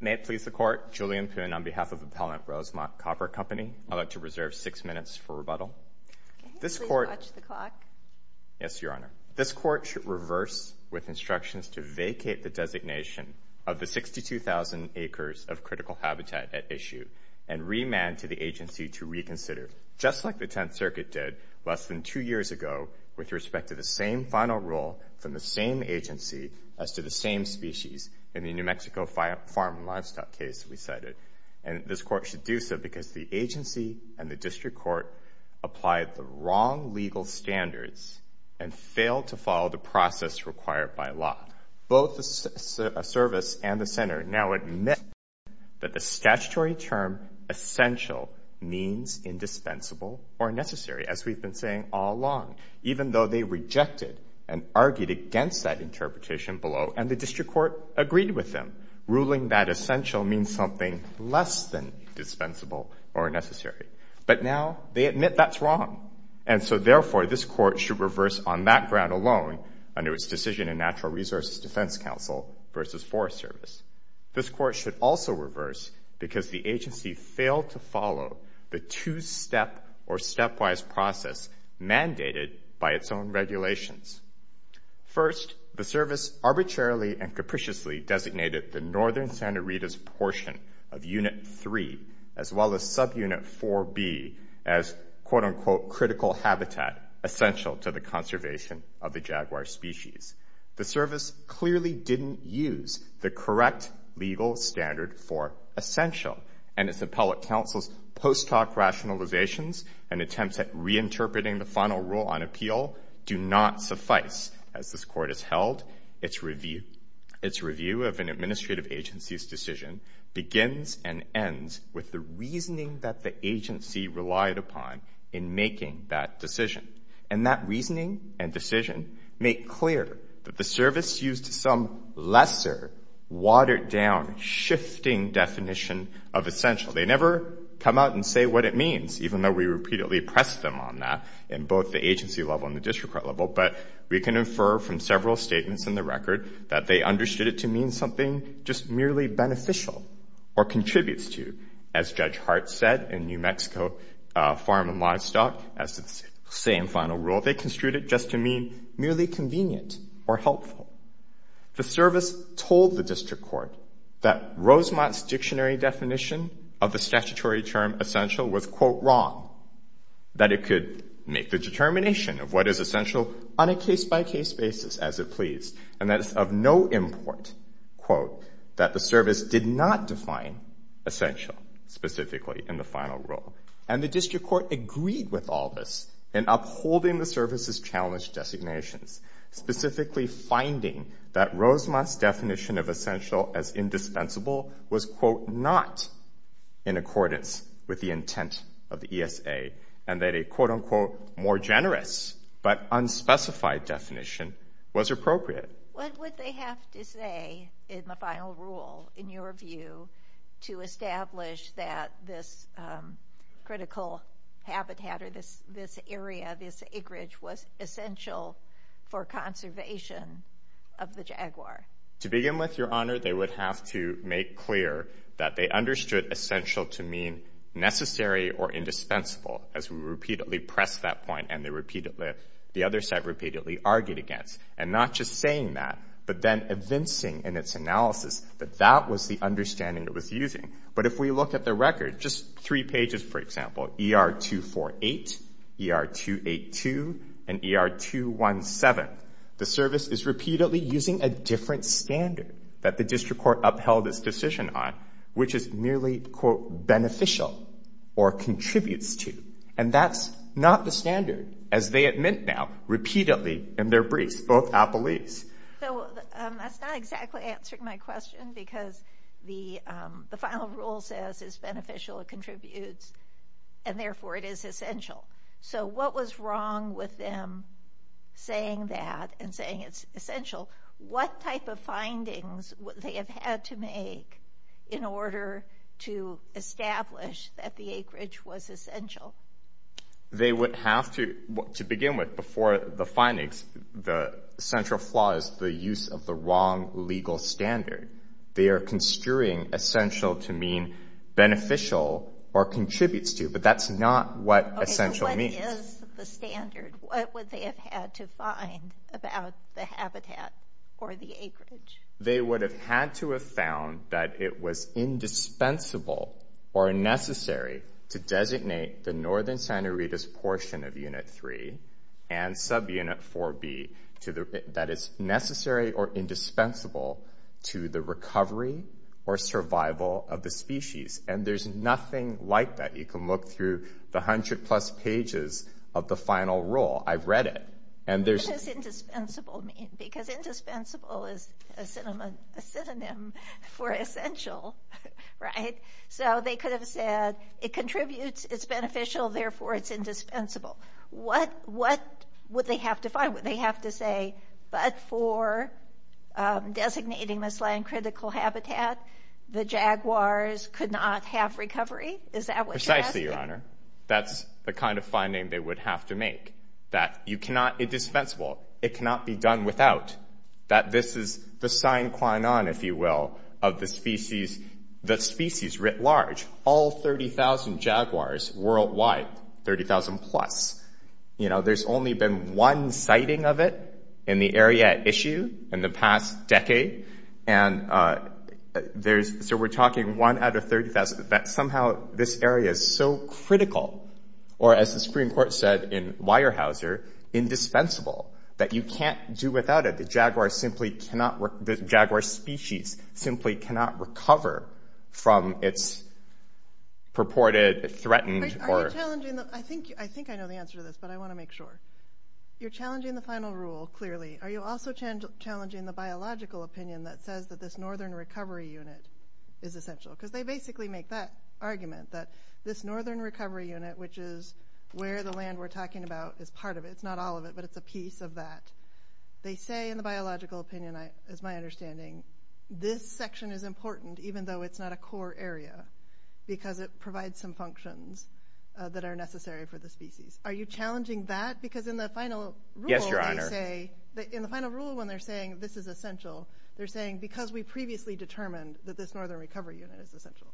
May it please the Court, Julian Poon on behalf of Appellant Rosemont Copper Company, I'd like to reserve six minutes for rebuttal. This Court should reverse with instructions to vacate the designation of the 62,000-acre acres of critical habitat at issue and remand to the agency to reconsider, just like the Tenth Circuit did less than two years ago with respect to the same final rule from the same agency as to the same species in the New Mexico Farm and Livestock case we cited. And this Court should do so because the agency and the District Court applied the wrong legal standards and failed to follow the process required by law. Both the Service and the Center now admit that the statutory term essential means indispensable or necessary, as we've been saying all along, even though they rejected and argued against that interpretation below and the District Court agreed with them, ruling that essential means something less than indispensable or necessary. But now they admit that's wrong. And so, therefore, this Court should reverse on that ground alone under its decision in Natural Resources Defense Council versus Forest Service. This Court should also reverse because the agency failed to follow the two-step or stepwise process mandated by its own regulations. First, the Service arbitrarily and capriciously designated the northern Santa Rita's portion of Unit 3 as well as subunit 4B as, quote-unquote, critical habitat essential to the conservation of the jaguar species. The Service clearly didn't use the correct legal standard for essential, and its appellate counsel's post hoc rationalizations and attempts at reinterpreting the final rule on appeal do not suffice. As this Court has held, its review of an administrative agency's decision begins and ends with the reasoning that the agency relied upon in making that decision. And that reasoning and decision make clear that the Service used some lesser, watered-down, shifting definition of essential. They never come out and say what it means, even though we repeatedly press them on that in both the agency level and the District Court level. But we can infer from several statements in the record that they understood it to mean something just merely beneficial or contributes to, as Judge Hart said in New Mexico Farm and Livestock, as to the same final rule, they construed it just to mean merely convenient or helpful. The Service told the District Court that Rosemont's dictionary definition of the statutory term essential was, quote, wrong, that it could make the determination of what is essential on a case-by-case basis as it pleased, and that it's of no import, quote, that the Service did not define essential specifically in the final rule. And the District Court agreed with all this in upholding the Service's challenged designations, specifically finding that Rosemont's definition of essential as indispensable was, quote, not in accordance with the intent of the ESA, and that a, quote, unquote, more generous but unspecified definition was appropriate. What would they have to say in the final rule, in your view, to establish that this critical habitat or this area, this acreage, was essential for conservation of the Jaguar? To begin with, Your Honor, they would have to make clear that they understood essential to mean necessary or indispensable, as we repeatedly pressed that point and the other set repeatedly argued against, and not just saying that, but then evincing in its analysis that that was the understanding it was using. But if we look at the record, just three pages, for example, ER-248, ER-282, and ER-217, the Service is repeatedly using a different standard that the District Court upheld its decision on, which is merely, quote, beneficial or contributes to, and that's not the standard, as they admit now, repeatedly in their briefs, both appellees. So that's not exactly answering my question, because the final rule says it's beneficial, it contributes, and therefore it is essential. So what was wrong with them saying that and saying it's essential? What type of findings would they have had to make in order to establish that the acreage was essential? They would have to, to begin with, before the findings, the central flaw is the use of the wrong legal standard. They are construing essential to mean beneficial or contributes to, but that's not what essential means. Okay, so what is the standard? What would they have had to find about the habitat or the acreage? They would have had to have found that it was indispensable or necessary to designate the northern Santa Rita's portion of Unit 3 and subunit 4B that is necessary or indispensable to the recovery or survival of the species. And there's nothing like that. You can look through the 100 plus pages of the final rule. I've read it. What does indispensable mean? Because indispensable is a synonym for essential, right? So they could have said it contributes, it's beneficial, therefore, it's indispensable. What would they have to find? Would they have to say, but for designating this land critical habitat, the jaguars could not have recovery? Is that what you're asking? Precisely, Your Honor. That's the kind of finding they would have to make. That you cannot, it's dispensable. It cannot be done without. That this is the sine qua non, if you will, of the species, the species writ large. All 30,000 jaguars worldwide, 30,000 plus. You know, there's only been one sighting of it in the area at issue in the past decade. And there's, so we're talking one out of 30,000, that somehow this area is so critical, or as the Supreme Court said in Weyerhaeuser, indispensable. That you can't do without it. The jaguar simply cannot, the jaguar species simply cannot recover from its purported, threatened or- Are you challenging the, I think I know the answer to this, but I want to make sure. You're challenging the final rule, clearly. Are you also challenging the biological opinion that says that this northern recovery unit is essential? Because they basically make that argument, that this northern recovery unit, which is where the land we're talking about is part of it, it's not all of it, but it's a piece of that. They say in the biological opinion, as my understanding, this section is important even though it's not a core area. Because it provides some functions that are necessary for the species. Are you challenging that? Because in the final rule- Yes, Your Honor. They say, in the final rule when they're saying this is essential, they're saying because we previously determined that this northern recovery unit is essential.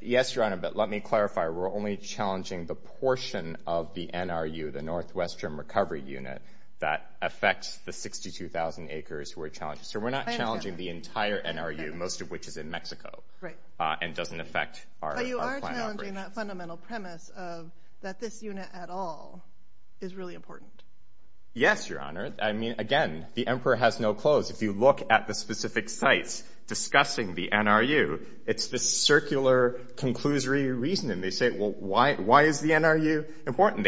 Yes, Your Honor, but let me clarify, we're only challenging the portion of the NRU, the Northwestern Recovery Unit, that affects the 62,000 acres we're challenging. So we're not challenging the entire NRU, most of which is in Mexico, and doesn't affect our plan operations. But you are challenging that fundamental premise of that this unit at all is really important. Yes, Your Honor. I mean, again, the emperor has no clothes. If you look at the specific sites discussing the NRU, it's this circular, conclusory reasoning. They say, well, why is the NRU important?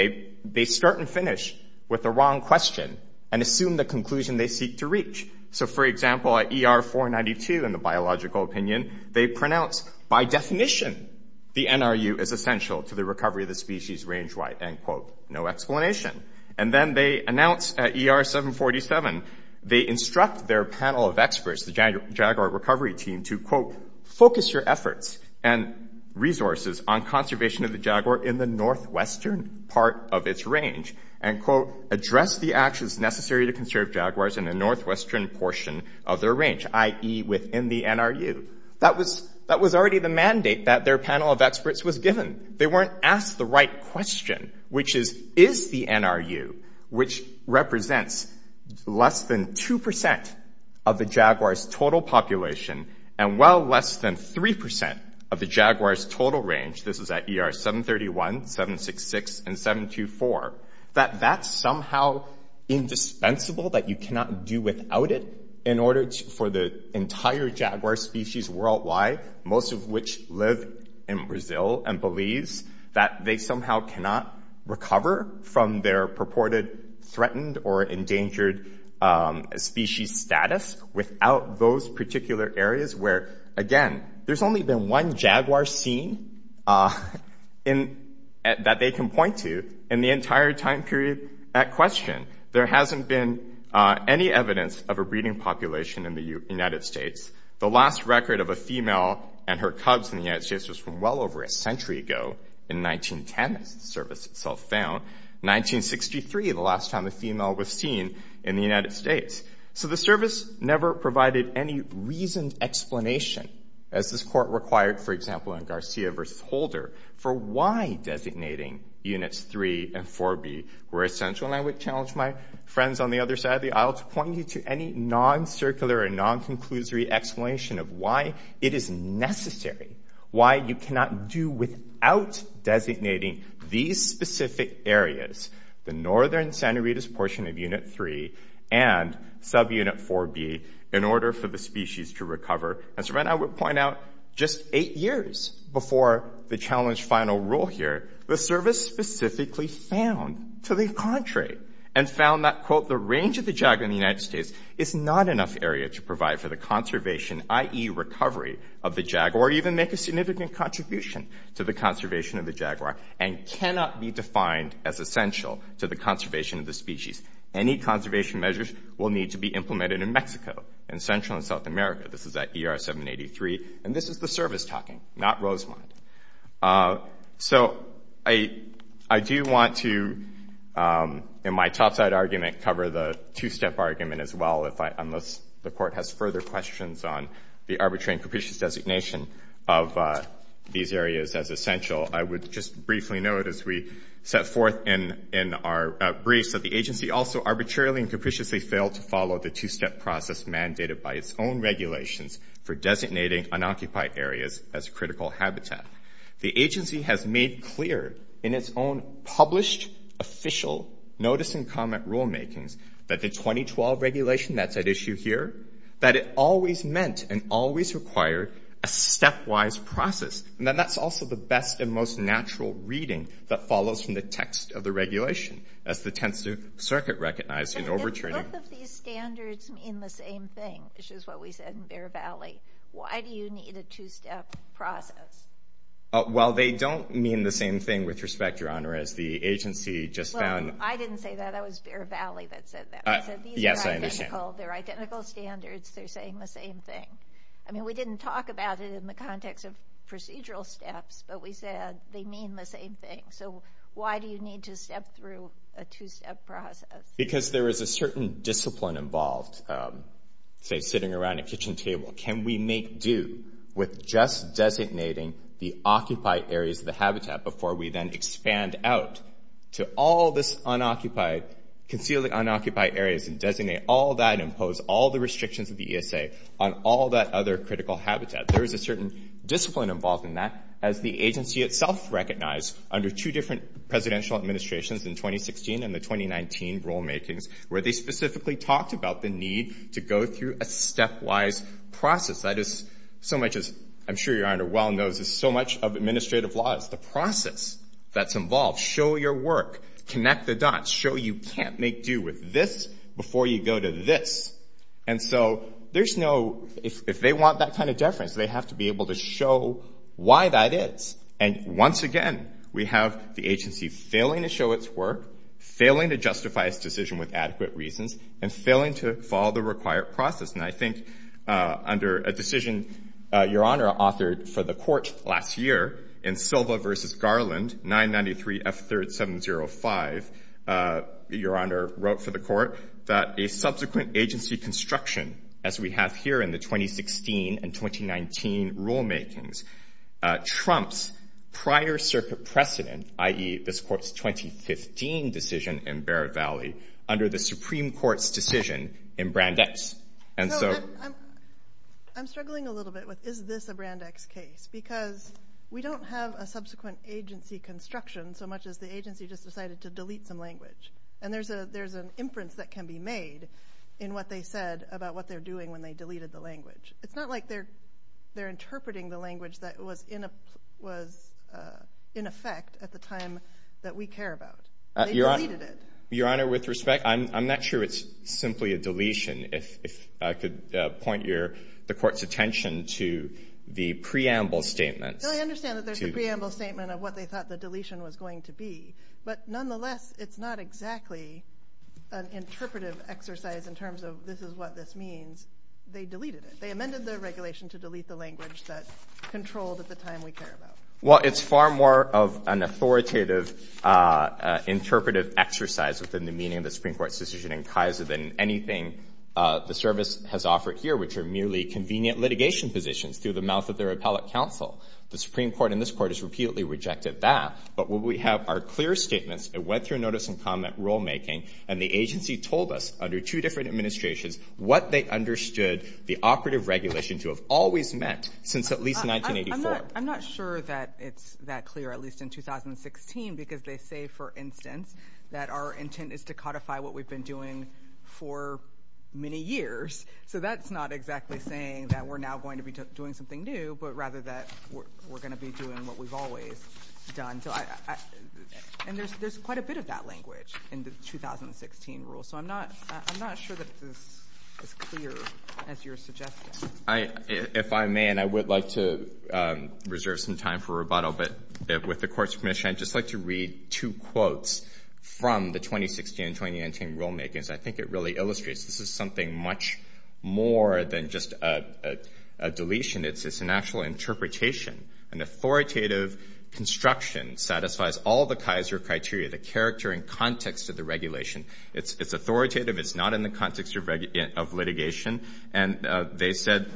They start and finish with the wrong question, and assume the conclusion they seek to reach. So for example, at ER 492 in the biological opinion, they pronounce, by definition, the NRU is essential to the recovery of the species range-wide, end quote, no explanation. And then they announce at ER 747, they instruct their panel of experts, the jaguar recovery team, to, quote, focus your efforts and resources on conservation of the jaguar in the northwestern part of its range, and, quote, address the actions necessary to conserve jaguars in the northwestern portion of their range, i.e. within the NRU. That was already the mandate that their panel of experts was given. They weren't asked the right question, which is, is the NRU, which represents less than 2% of the jaguar's total population, and well less than 3% of the jaguar's total range, this is at ER 731, 766, and 724, that that's somehow indispensable, that you cannot do without it, in order for the entire jaguar species worldwide, most of which live in Brazil and believes that they somehow cannot recover from their purported threatened or endangered species status without those particular areas where, again, there's only been one jaguar seen that they can point to in the entire time period at question. There hasn't been any evidence of a breeding population in the United States. The last record of a female and her cubs in the United States was from well over a century ago in 1910, as the service itself found, 1963, the last time a female was seen in the United States. So the service never provided any reasoned explanation, as this court required, for example, in Garcia v. Holder, for why designating Units 3 and 4B were essential. And I would challenge my friends on the other side of the aisle to point you to any non-circular or non-conclusory explanation of why it is necessary, why you cannot do without designating these specific areas, the northern Santa Rita's portion of Unit 3 and subunit 4B, in order for the species to recover. As Rena would point out, just eight years before the challenge final rule here, the range of the jaguar in the United States is not enough area to provide for the conservation, i.e. recovery of the jaguar, or even make a significant contribution to the conservation of the jaguar, and cannot be defined as essential to the conservation of the species. Any conservation measures will need to be implemented in Mexico, in Central and South America. This is at ER 783, and this is the service talking, not Rosemont. So I do want to, in my topside argument, cover the two-step argument as well, unless the Court has further questions on the arbitrary and capricious designation of these areas as essential. I would just briefly note, as we set forth in our briefs, that the agency also arbitrarily and capriciously failed to follow the two-step process mandated by its own regulations for designating unoccupied areas as critical habitat. The agency has made clear in its own published official notice-and-comment rulemakings that the 2012 regulation that's at issue here, that it always meant and always required a stepwise process, and that that's also the best and most natural reading that follows from the text of the regulation, as the Tenth Circuit recognized in overturning. And if both of these standards mean the same thing, which is what we said in Bear Valley, why do you need a two-step process? Well, they don't mean the same thing, with respect, Your Honor, as the agency just found. I didn't say that. It was Bear Valley that said that. Yes, I understand. They're identical standards. They're saying the same thing. I mean, we didn't talk about it in the context of procedural steps, but we said they mean the same thing. So why do you need to step through a two-step process? Because there is a certain discipline involved, say, sitting around a kitchen table. Can we make due with just designating the occupied areas of the habitat before we then expand out to all this unoccupied, concealed unoccupied areas and designate all that, impose all the restrictions of the ESA on all that other critical habitat? There is a certain discipline involved in that, as the agency itself recognized under two different presidential administrations in 2016 and the 2019 rulemakings, where they specifically talked about the need to go through a step-wise process. That is so much, as I'm sure Your Honor well knows, is so much of administrative law is the process that's involved. Show your work. Connect the dots. Show you can't make due with this before you go to this. And so there's no — if they want that kind of deference, they have to be able to show why that is. And once again, we have the agency failing to show its work, failing to justify its decision with adequate reasons, and failing to follow the required process. And I think under a decision Your Honor authored for the Court last year in Silva v. Garland, 993 F3705, Your Honor wrote for the Court that a subsequent agency construction, as we have here in the 2016 and 2019 rulemakings, trumps prior circuit precedent, i.e., this Court's 2015 decision in Barrett Valley under the Supreme Court's decision in Brandeis. And so I'm struggling a little bit with, is this a Brandeis case? Because we don't have a subsequent agency construction so much as the agency just decided to delete some language. And there's an inference that can be made in what they said about what they're doing when they deleted the language. It's not like they're interpreting the language that was in effect at the time that we care about. They deleted it. Your Honor, with respect, I'm not sure it's simply a deletion. If I could point the Court's attention to the preamble statement. No, I understand that there's a preamble statement of what they thought the deletion was going to be. But nonetheless, it's not exactly an interpretive exercise in terms of this is what this means. They deleted it. They amended their regulation to delete the language that controlled at the time we care about. Well, it's far more of an authoritative interpretive exercise within the meaning of the Supreme Court's decision in Kaiser than anything the service has offered here, which are merely convenient litigation positions through the mouth of their appellate counsel. The Supreme Court in this Court has repeatedly rejected that. But when we have our clear statements, it went through notice and comment rulemaking, and the agency told us under two different administrations what they understood the operative regulation to have always meant since at least 1984. I'm not sure that it's that clear, at least in 2016, because they say, for instance, that our intent is to codify what we've been doing for many years. So that's not exactly saying that we're now going to be doing something new, but rather that we're going to be doing what we've always done. And there's quite a bit of that language in the 2016 rule. So I'm not sure that it's as clear as you're suggesting. If I may, and I would like to reserve some time for rebuttal, but with the Court's permission, I'd just like to read two quotes from the 2016 and 2019 rulemakings. I think it really illustrates this is something much more than just a deletion. It's an actual interpretation. An authoritative construction satisfies all the Kaiser criteria, the character and context of the regulation. It's authoritative. It's not in the context of litigation. And they said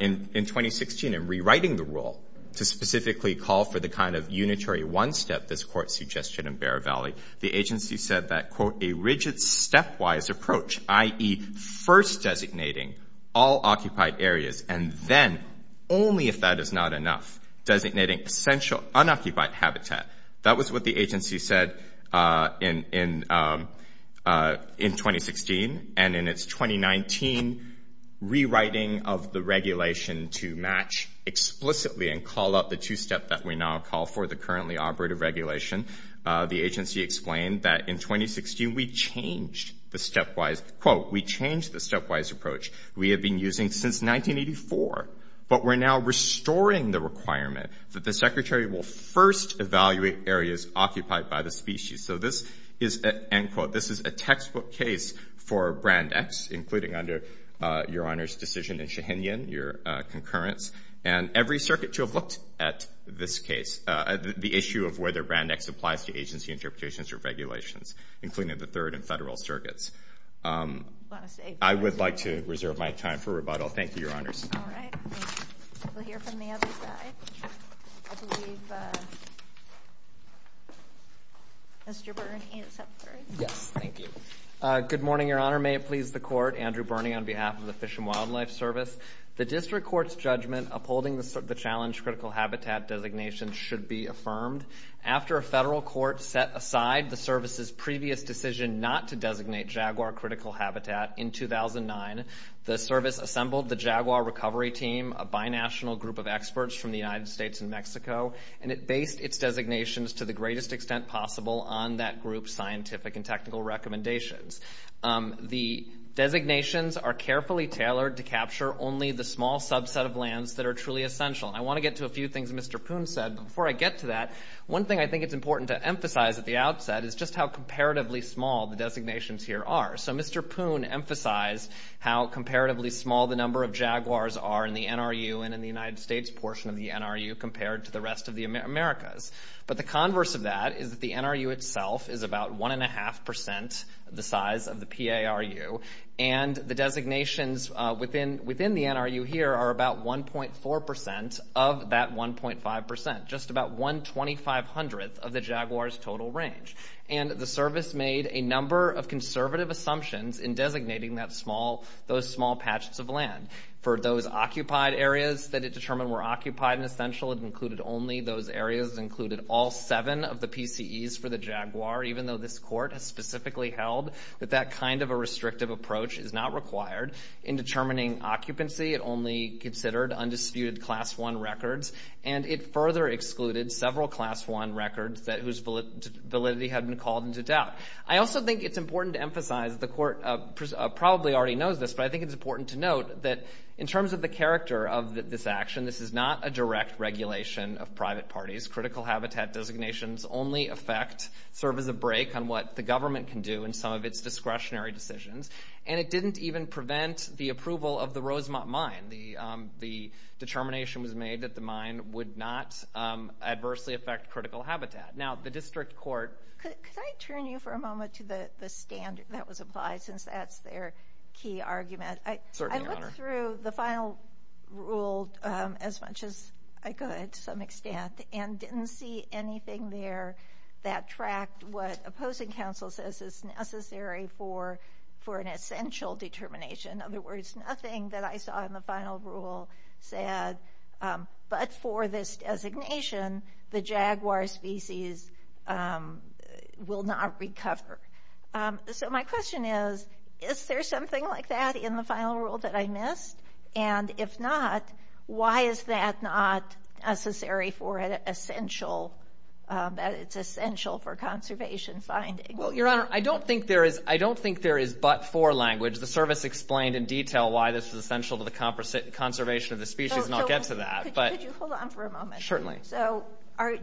in 2016, in rewriting the rule to specifically call for the kind of unitary one-step this Court suggested in Bear Valley, the agency said that, quote, a rigid stepwise approach, i.e. first designating all occupied areas and then, only if that is not enough, designating essential unoccupied habitat. That was what the agency said in 2016. And in its 2019 rewriting of the regulation to match explicitly and call out the two-step that we now call for, the currently operative regulation, the agency explained that in 2016 we changed the stepwise, quote, we changed the stepwise approach we have been using since 1984, but we're now restoring the requirement that the Secretary will first evaluate areas occupied by the species. So this is, end quote, this is a textbook case for Brand X, including under Your Honor's decision in Shahinian, your concurrence, and every circuit to have looked at this case, the issue of whether Brand X applies to agency interpretations or regulations, including the third and federal circuits. I would like to reserve my time for rebuttal. Thank you, Your Honors. All right. We'll hear from the other side. I believe Mr. Burney is up first. Yes, thank you. Good morning, Your Honor. May it please the Court. Andrew Burney on behalf of the Fish and Wildlife Service. The district court's judgment upholding the challenge critical habitat designation should be affirmed. After a federal court set aside the service's previous decision not to designate jaguar critical habitat in 2009, the service assembled the Jaguar Recovery Team, a binational group of experts from the United States and Mexico, and it based its designations to the greatest extent possible on that group's scientific and technical recommendations. The designations are carefully tailored to capture only the small subset of lands that are truly essential. I want to get to a few things Mr. Poon said. Before I get to that, one thing I think it's important to emphasize at the outset is just how comparatively small the designations here are. So Mr. Poon emphasized how comparatively small the number of jaguars are in the NRU and in the United States portion of the NRU compared to the rest of the Americas. But the converse of that is that the NRU itself is about one and a half percent the size of the PARU, and the designations within the NRU here are about 1.4 percent of that 1.5 percent, just about one twenty-five hundredth of the jaguar's total range. And the service made a number of conservative assumptions in designating those small patches of land. For those occupied areas that it determined were occupied and essential, it included only those areas, it included all seven of the PCEs for the jaguar, even though this court has specifically held that that kind of a restrictive approach is not required. In determining occupancy, it only considered undisputed Class I records, and it further excluded several Class I records whose validity had been called into doubt. I also think it's important to emphasize, the court probably already knows this, but I think it's important to note that in terms of the character of this action, this is not a direct regulation of private parties. Critical habitat designations only affect, serve as a brake on what the government can do in some of its discretionary decisions, and it didn't even prevent the approval of the Rosemont Mine. The determination was made that the mine would not adversely affect critical habitat. Now, the district court... Could I turn you for a moment to the standard that was applied, since that's their key argument? Certainly, Your Honor. I looked through the final rule as much as I could, to some extent, and didn't see anything there that tracked what opposing counsel says is necessary for an essential determination. In other words, nothing that I saw in the final rule said, but for this designation, the jaguar species will not recover. So my question is, is there something like that in the final rule that I missed? And if not, why is that not necessary for an essential, that it's essential for conservation finding? Well, Your Honor, I don't think there is, I don't think there is but-for language. The service explained in detail why this is essential to the conservation of the species, and I'll get to that. Could you hold on for a moment? Certainly. So,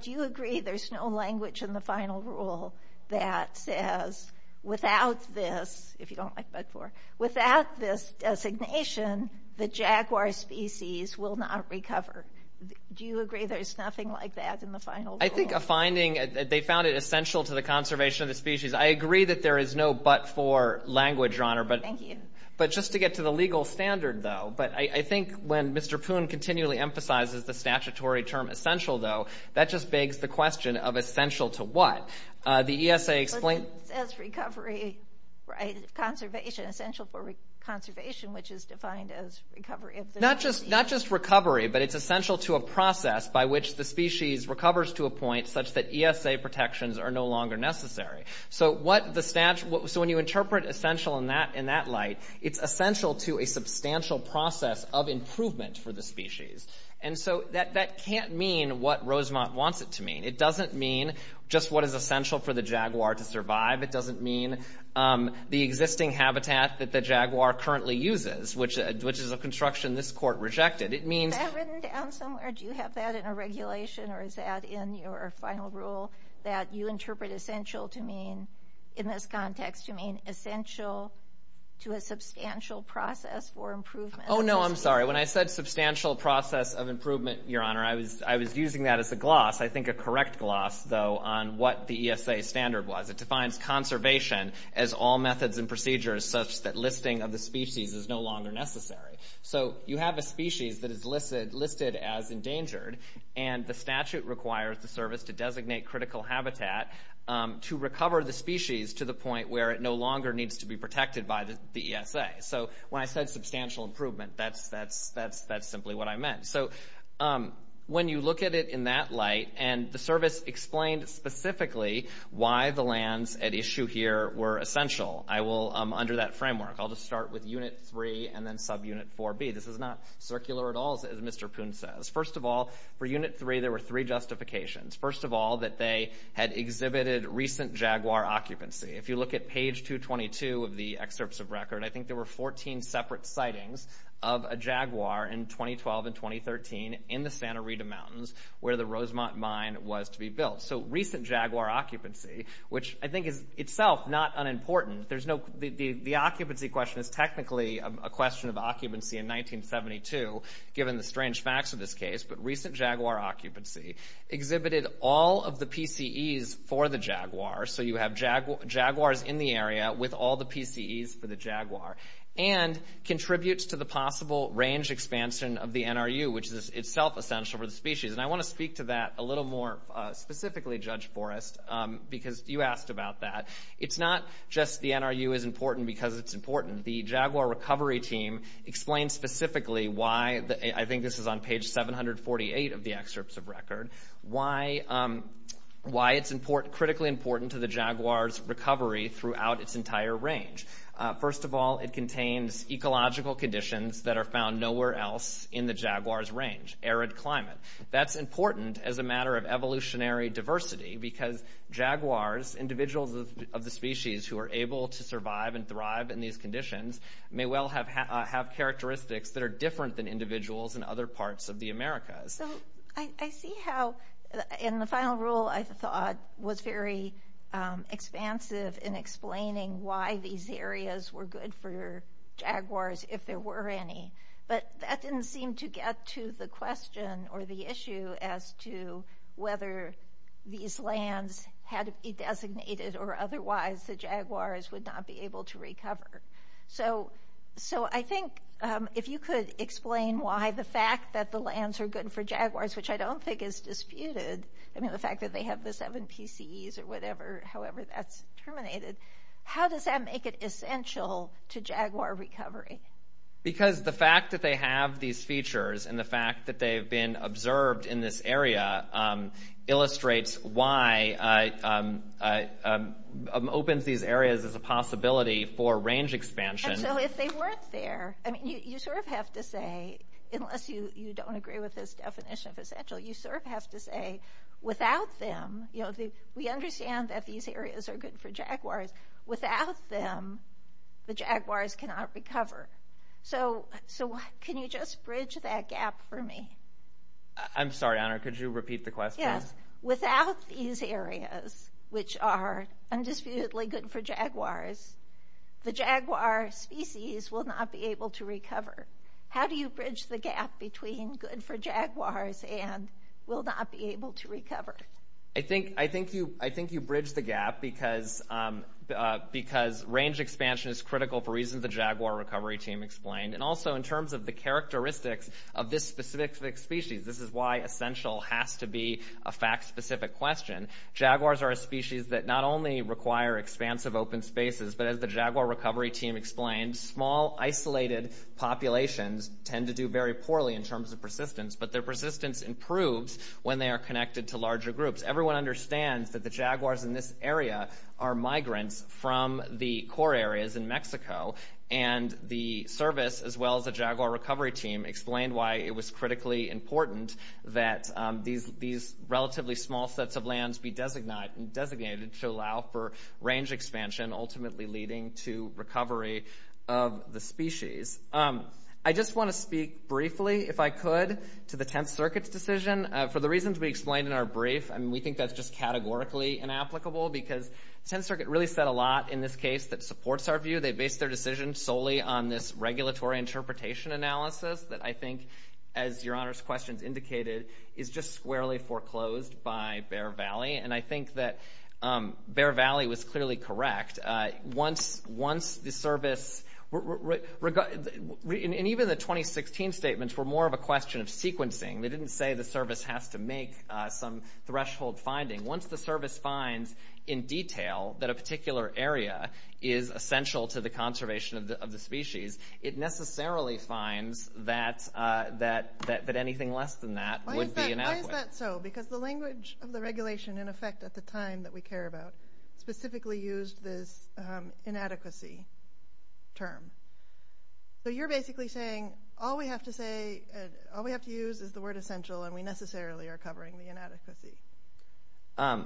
do you agree there's no language in the final rule that says, without this, if you don't like but-for, without this designation, the jaguar species will not recover. Do you agree there's nothing like that in the final rule? I think a finding, they found it essential to the conservation of the species. I agree that there is no but-for language, Your Honor. Thank you. But just to get to the legal standard, though, but I think when Mr. Poon continually emphasizes the statutory term essential, though, that just begs the question of essential to what? The ESA explained... It says recovery, right, conservation, essential for a process by which the species recovers to a point such that ESA protections are no longer necessary. So when you interpret essential in that light, it's essential to a substantial process of improvement for the species. And so that can't mean what Rosemont wants it to mean. It doesn't mean just what is essential for the jaguar to survive. It doesn't mean the existing habitat that the jaguar currently uses, which is a construction this court rejected. It means... Is that written down somewhere? Do you have that in a regulation or is that in your final rule that you interpret essential to mean, in this context, you mean essential to a substantial process for improvement? Oh, no, I'm sorry. When I said substantial process of improvement, Your Honor, I was using that as a gloss, I think a correct gloss, though, on what the ESA standard was. It defines conservation as all methods and procedures such that listing of the species is no longer necessary. So you have a species that is listed as endangered and the statute requires the service to designate critical habitat to recover the species to the point where it no longer needs to be protected by the ESA. So when I said substantial improvement, that's simply what here were essential. I will, under that framework, I'll just start with Unit 3 and then subunit 4B. This is not circular at all, as Mr. Poon says. First of all, for Unit 3, there were three justifications. First of all, that they had exhibited recent jaguar occupancy. If you look at page 222 of the excerpts of record, I think there were 14 separate sightings of a jaguar in 2012 and 2013 in the Santa Rita Mountains where the Rosemont Mine was to be built. So recent jaguar occupancy, which I think is itself not unimportant. The occupancy question is technically a question of occupancy in 1972, given the strange facts of this case, but recent jaguar occupancy exhibited all of the PCEs for the jaguar. So you have jaguars in the area with all the PCEs for the jaguar and contributes to the possible range expansion of the NRU, which is itself essential for the species. And I want to speak to that a little more specifically, Judge Forrest, because you asked about that. It's not just the NRU is important because it's important. The jaguar recovery team explained specifically why, I think this is on page 748 of the excerpts of record, why it's critically important to the jaguar's recovery throughout its entire range. First of all, it contains ecological conditions that are found nowhere else in the jaguar's range, arid climate. That's important as a matter of evolutionary diversity, because jaguars, individuals of the species who are able to survive and thrive in these conditions, may well have characteristics that are different than individuals in other parts of the Americas. So I see how, in the final rule, I thought was very expansive in explaining why these areas were for jaguars if there were any. But that didn't seem to get to the question or the issue as to whether these lands had to be designated or otherwise the jaguars would not be able to recover. So I think if you could explain why the fact that the lands are good for jaguars, which I don't think is disputed, I mean, the fact that they have the seven PCEs or whatever, however that's terminated, how does that make it essential to jaguar recovery? Because the fact that they have these features and the fact that they've been observed in this area illustrates why it opens these areas as a possibility for range expansion. And so if they weren't there, I mean, you sort of have to say, unless you don't agree with this definition of essential, you sort of have to say, without them, we understand that these areas are good for jaguars. Without them, the jaguars cannot recover. So can you just bridge that gap for me? I'm sorry, Honor. Could you repeat the question? Yes. Without these areas, which are undisputedly good for jaguars, the jaguar species will not be able to recover. How do you bridge the gap between good for jaguars and will not be able to recover? I think you bridge the gap because range expansion is critical for reasons the jaguar recovery team explained. And also in terms of the characteristics of this specific species, this is why essential has to be a fact-specific question. Jaguars are a species that not only require expansive open spaces, but as the jaguar recovery team explained, small isolated populations tend to do very poorly in terms of persistence. But their persistence improves when they are connected to larger groups. Everyone understands that the jaguars in this area are migrants from the core areas in Mexico. And the service, as well as the jaguar recovery team, explained why it was critically important that these relatively small sets of lands be designated to allow for range expansion, ultimately leading to recovery of the species. I just want to speak briefly, if I could, to the Tenth Circuit's decision. For the reasons we explained in our brief, we think that's just categorically inapplicable because the Tenth Circuit really said a lot in this case that supports our view. They based their decision solely on this regulatory interpretation analysis that I think, as Your Honor's questions indicated, is just squarely foreclosed by Bear Valley. And I clearly correct. Even the 2016 statements were more of a question of sequencing. They didn't say the service has to make some threshold finding. Once the service finds in detail that a particular area is essential to the conservation of the species, it necessarily finds that anything less than that would be inadequate. Why is that so? Because the language of the regulation, in effect, at the time that we care about, specifically used this inadequacy term. So you're basically saying, all we have to say, all we have to use is the word essential, and we necessarily are covering the inadequacy.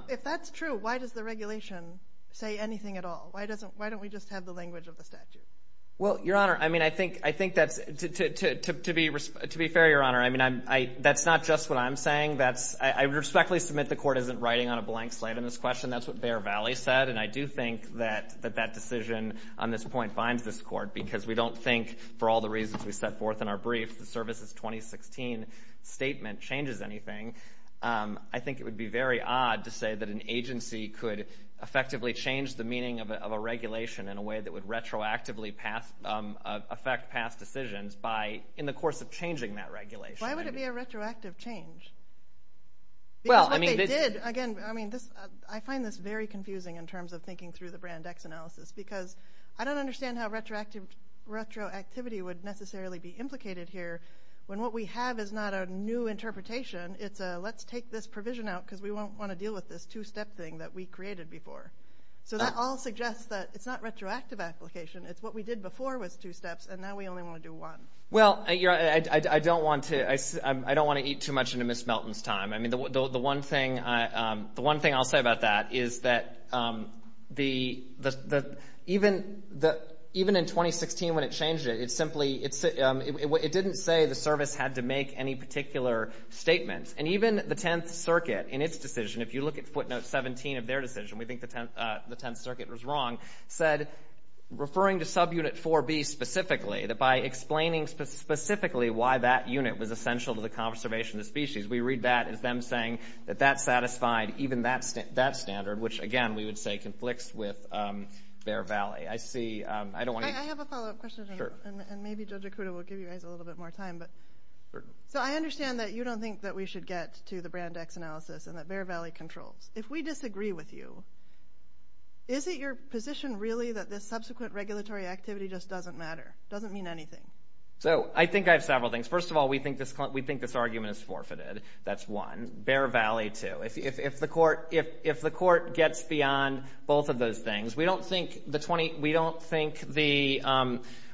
If that's true, why does the regulation say anything at all? Why doesn't, why don't we just have the language of the statute? Well, Your Honor, I mean, I think, I think that's, to be fair, Your Honor, I mean, I, that's not just what I'm saying. That's, I respectfully submit the Court isn't writing on a blank slate on this question. That's what Bear Valley said. And I do think that, that that decision on this point binds this Court, because we don't think, for all the reasons we set forth in our brief, the service's 2016 statement changes anything. I think it would be very odd to say that an agency could effectively change the meaning of a regulation in a way that would retroactively pass, affect past decisions by, in the course of changing that regulation. Why would it be a retroactive change? Well, I mean, this, Because what they did, again, I mean, this, I find this very confusing in terms of thinking through the Brand X analysis, because I don't understand how retroactive, retroactivity would necessarily be implicated here, when what we have is not a new interpretation. It's a, let's take this provision out, because we won't want to deal with this two-step thing that we created before. So that all suggests that it's not retroactive application. It's what we did before was two steps, and now we only want to do one. Well, I don't want to eat too much into Ms. Melton's time. I mean, the one thing I'll say about that is that the, even in 2016 when it changed it, it simply, it didn't say the service had to make any particular statement. And even the Tenth Circuit, in its decision, if you look at footnote 17 of their decision, we think the Tenth Circuit was wrong, said, referring to subunit 4B specifically, that by explaining specifically why that unit was essential to the conservation of the species, we read that as them saying that that satisfied even that standard, which, again, we would say conflicts with Bear Valley. I see, I don't want to. I have a follow-up question, and maybe Judge Okuda will give you guys a little bit more time, but. So I understand that you don't think that we should get to the Brand X analysis, and that Bear Valley controls. If we disagree with you, is it your position really that this doesn't matter, doesn't mean anything? So I think I have several things. First of all, we think this argument is forfeited. That's one. Bear Valley, two. If the court gets beyond both of those things, we don't think the 20, we don't think the,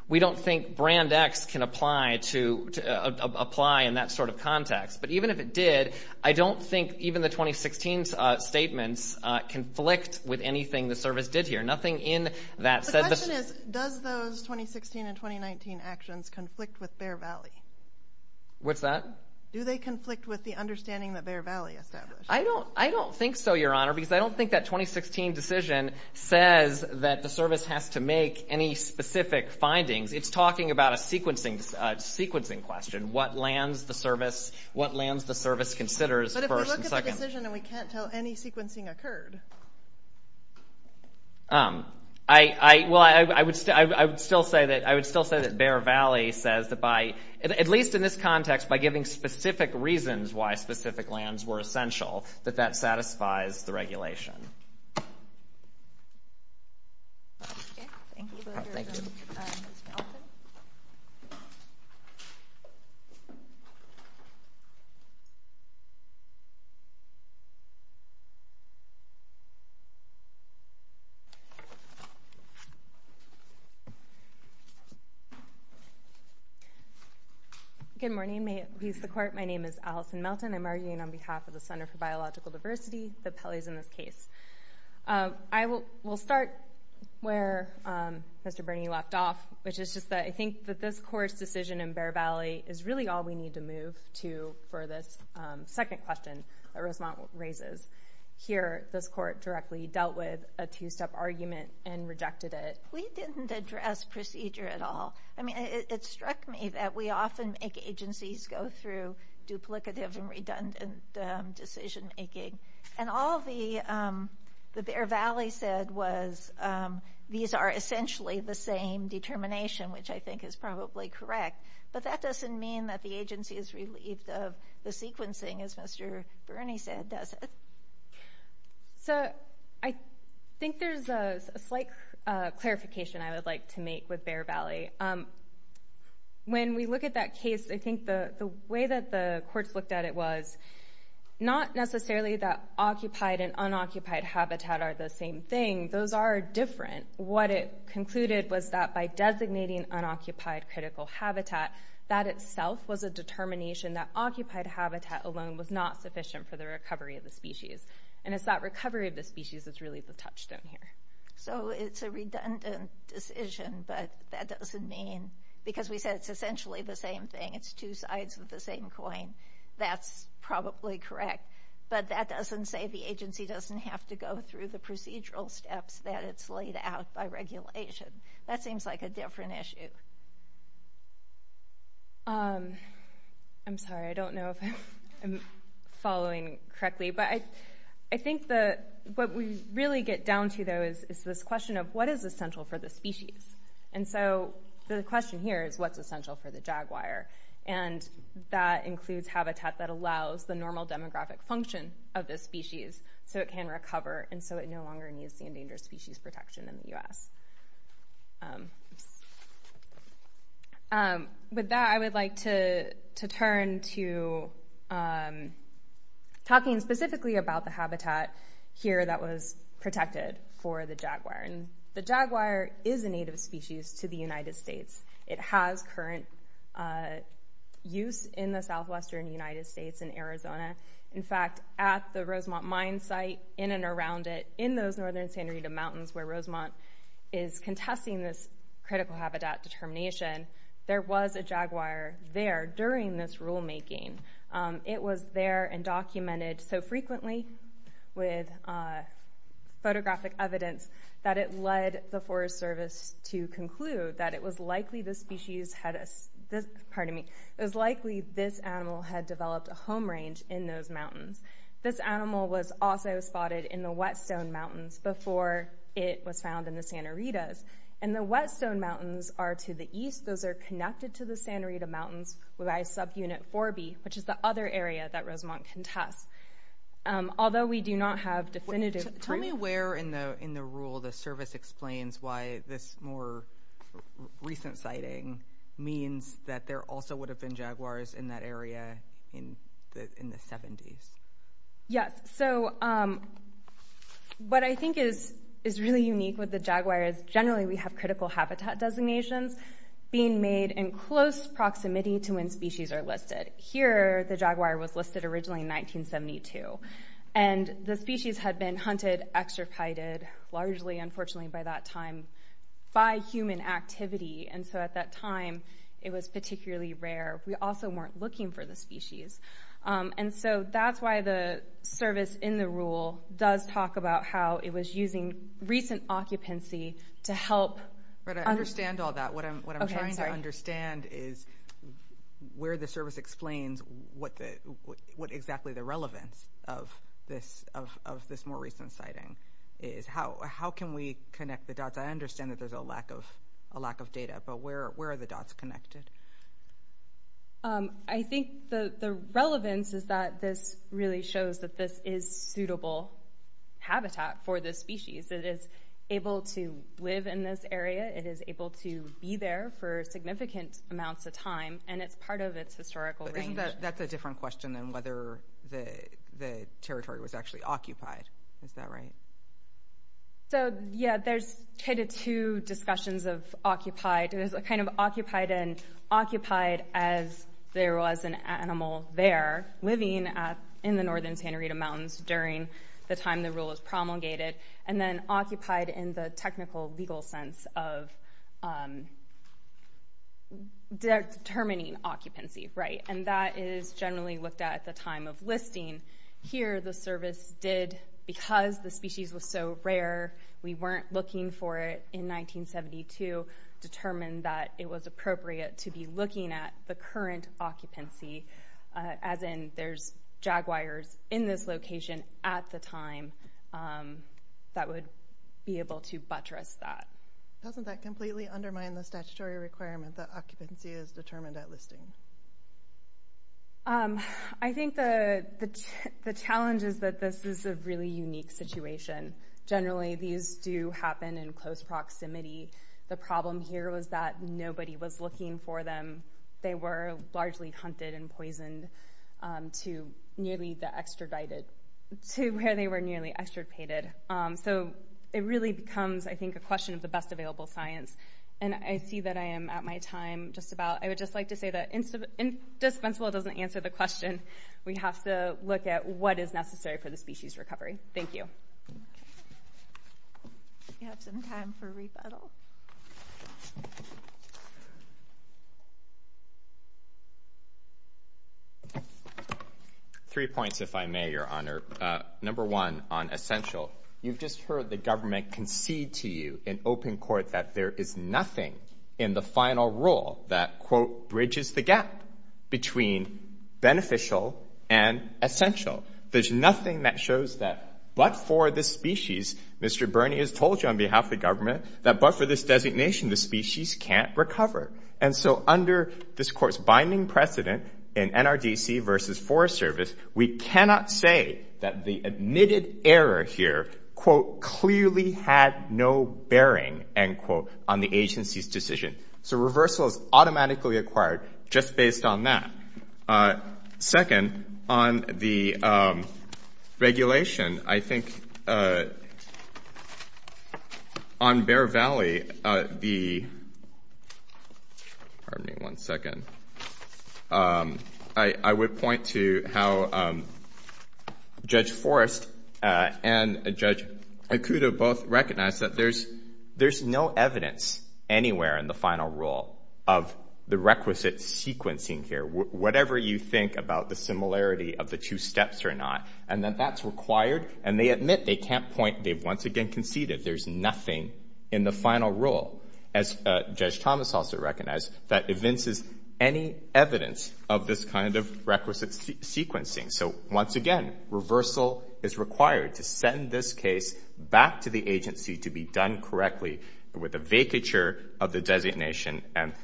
we don't think Brand X can apply to, apply in that sort of context. But even if it did, I don't think even the 2016 statements conflict with anything the service did here. Nothing in that said. The question is, does those 2016 and 2019 actions conflict with Bear Valley? What's that? Do they conflict with the understanding that Bear Valley established? I don't, I don't think so, Your Honor, because I don't think that 2016 decision says that the service has to make any specific findings. It's talking about a sequencing, sequencing question. What lands the service, what lands the service considers first and second. But if we look at the decision and we can't tell any sequencing occurred. Um, I, I, well, I would still say that, I would still say that Bear Valley says that by, at least in this context, by giving specific reasons why specific lands were essential, that that satisfies the regulation. Okay. Thank you. Thank you. Good morning. May it please the court. My name is Allison Melton. I'm arguing on behalf of the Center for Biological Diversity that Pelley's in this case. Um, I will, we'll start where, um, Mr. Bernie left off, which is just that I think that this court's decision in Bear Valley is really all we need to move to for this, um, second question that Rosemont raises. Here, this court directly dealt with a two-step argument and rejected it. We didn't address procedure at all. I mean, it, it struck me that we often make agencies go through duplicative and redundant, um, decision making. And all the, um, the Bear Valley said was, um, these are essentially the same determination, which I think is probably correct. But that doesn't mean that the agency is relieved of the sequencing, as Mr. Bernie said, does it? So, I think there's a slight, uh, clarification I would like to make with Bear Valley. Um, when we look at that case, I think the, the way that the courts looked at it was not necessarily that occupied and by designating unoccupied critical habitat, that itself was a determination that occupied habitat alone was not sufficient for the recovery of the species. And it's that recovery of the species that's really the touchstone here. So, it's a redundant decision, but that doesn't mean, because we said it's essentially the same thing. It's two sides of the same coin. That's probably correct. But that doesn't say the agency doesn't have to go through the procedural steps that it's laid out by regulation. That seems like a different issue. Um, I'm sorry. I don't know if I'm following correctly. But I, I think the, what we really get down to though is, is this question of what is essential for the species? And so, the question here is what's essential for the jaguar? And that includes habitat that allows the normal demographic function of this species. So, it can recover. And so, it no longer needs the endangered species protection in the U.S. With that, I would like to, to turn to talking specifically about the habitat here that was protected for the jaguar. And the jaguar is a native species to the United States. It has current use in the Southwestern United States in Arizona. In fact, at the Rosemont Mine site, in and around it, in those northern Santa Rita mountains where Rosemont is contesting this critical habitat determination, there was a jaguar there during this rulemaking. It was there and documented so frequently with photographic evidence that it led the Forest Service to conclude that it was likely this species had, pardon me, it was likely this animal had developed a home range in those mountains. This animal was also spotted in the Whetstone Mountains before it was found in the Santa Ritas. And the Whetstone Mountains are to the east. Those are connected to the Santa Rita Mountains by subunit 4B, which is the other area that Rosemont contests. Although we do not have definitive proof. Tell me where in the, in the rule, the service explains why this more recent sighting means that there also would have been jaguars in that area in the, in the 70s. Yes. So what I think is, is really unique with the jaguar is generally we have critical habitat designations being made in close proximity to when species are listed. Here, the jaguar was listed originally in 1972. And the species had been hunted, extricated, largely unfortunately by that time, by human activity. And so at that time it was particularly rare. We also weren't looking for the species. And so that's why the service in the rule does talk about how it was using recent occupancy to help. But I understand all that. What I'm, what I'm trying to understand is where the service explains what the, what exactly the relevance of this, of this more recent sighting is. How, how can we connect the dots? I understand that there's a lack of, a lack of data, but where, where are the dots connected? I think the, the relevance is that this really shows that this is suitable habitat for this species. It is able to live in this area. It is able to be there for significant amounts of time. And it's part of its historical range. That's a different question than whether the, the territory was actually occupied. Is that right? So yeah, there's kind of two discussions of occupied. There's a kind of occupied and occupied as there was an animal there living at, in the Northern Santa Rita Mountains during the time the rule was promulgated. And then occupied in the technical legal sense of determining, determining occupancy. Right. And that is generally looked at the time of listing. Here, the service did, because the species was so rare, we weren't looking for it in 1972, determined that it was appropriate to be looking at the current occupancy as in there's jaguars in this location at the time that would be able to buttress that. Doesn't that completely undermine the statutory requirement that occupancy is determined at listing? I think the, the challenge is that this is a really unique situation. Generally, these do happen in close proximity. The problem here was that nobody was looking for them. They were largely hunted and poisoned to nearly the extradited, to where they were of the best available science. And I see that I am at my time just about, I would just like to say that indispensable doesn't answer the question. We have to look at what is necessary for the species recovery. Thank you. We have some time for rebuttal. Three points, if I may, Your Honor. Number one on essential. You've just heard the government concede to you in open court that there is nothing in the final rule that, quote, bridges the gap between beneficial and essential. There's nothing that shows that but for this species, Mr. Bernie has told you on behalf of the government that but for this designation, the species can't recover. And so under this court's binding precedent in NRDC versus Forest Service, we cannot say that the admitted error here, quote, clearly had no bearing, end quote, on the agency's decision. So reversal is automatically acquired just based on that. Second, on the regulation, I think on Bear Valley, the, pardon me one second, I would point to how Judge Forrest and Judge Ikuda both recognized that there's no evidence anywhere in the final rule of the requisite sequencing here, whatever you think about the similarity of the two steps or not, and that that's required. And they admit they can't point, they've once again conceded there's nothing in the final rule, as Judge Thomas also recognized, that evinces any evidence of this kind of requisite sequencing. So once again, reversal is required to send this case back to the agency to be done correctly with a vacature of the designation and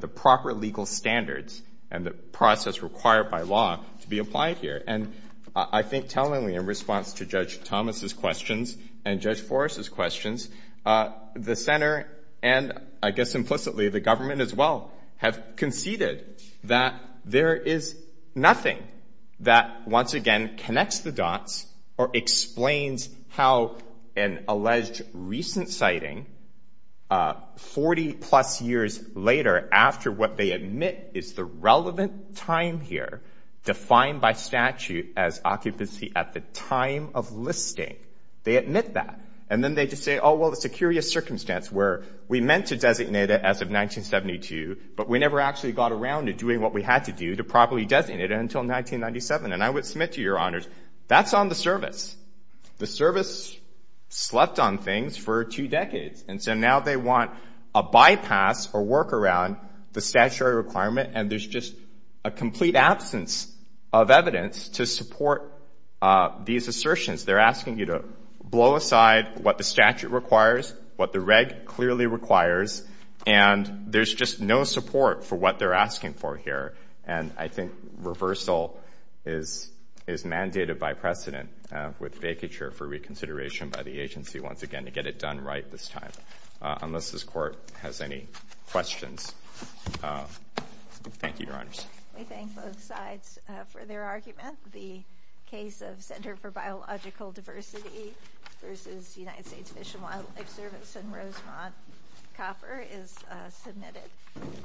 the proper legal standards and the process required by law to be applied here. And I think tellingly in response to Judge Thomas's questions and Judge Forrest's questions, the center and I guess implicitly the government as well have conceded that there is nothing that once again connects the dots or explains how an alleged recent sighting 40 plus years later after what they admit is the relevant time here defined by statute as occupancy at the time of listing, they admit that. And then they just say, oh, well, it's a curious circumstance where we meant to designate it as of 1972, but we never actually got around to doing what we had to do to properly designate it until 1997. And I would submit to your honors, that's on the service. The service slept on things for two decades. And so now they want a bypass or work around the statutory requirement and there's just a complete absence of evidence to support these assertions. They're asking you to blow aside what the statute requires, what the reg clearly requires, and there's just no support for what they're asking for here. And I think reversal is mandated by precedent with vacature for reconsideration by the agency once again to get it done right this time, unless this court has any questions. Thank you, your honors. We thank both sides for their argument. The case of Center for Biological Diversity versus United States Fish and Wildlife Service and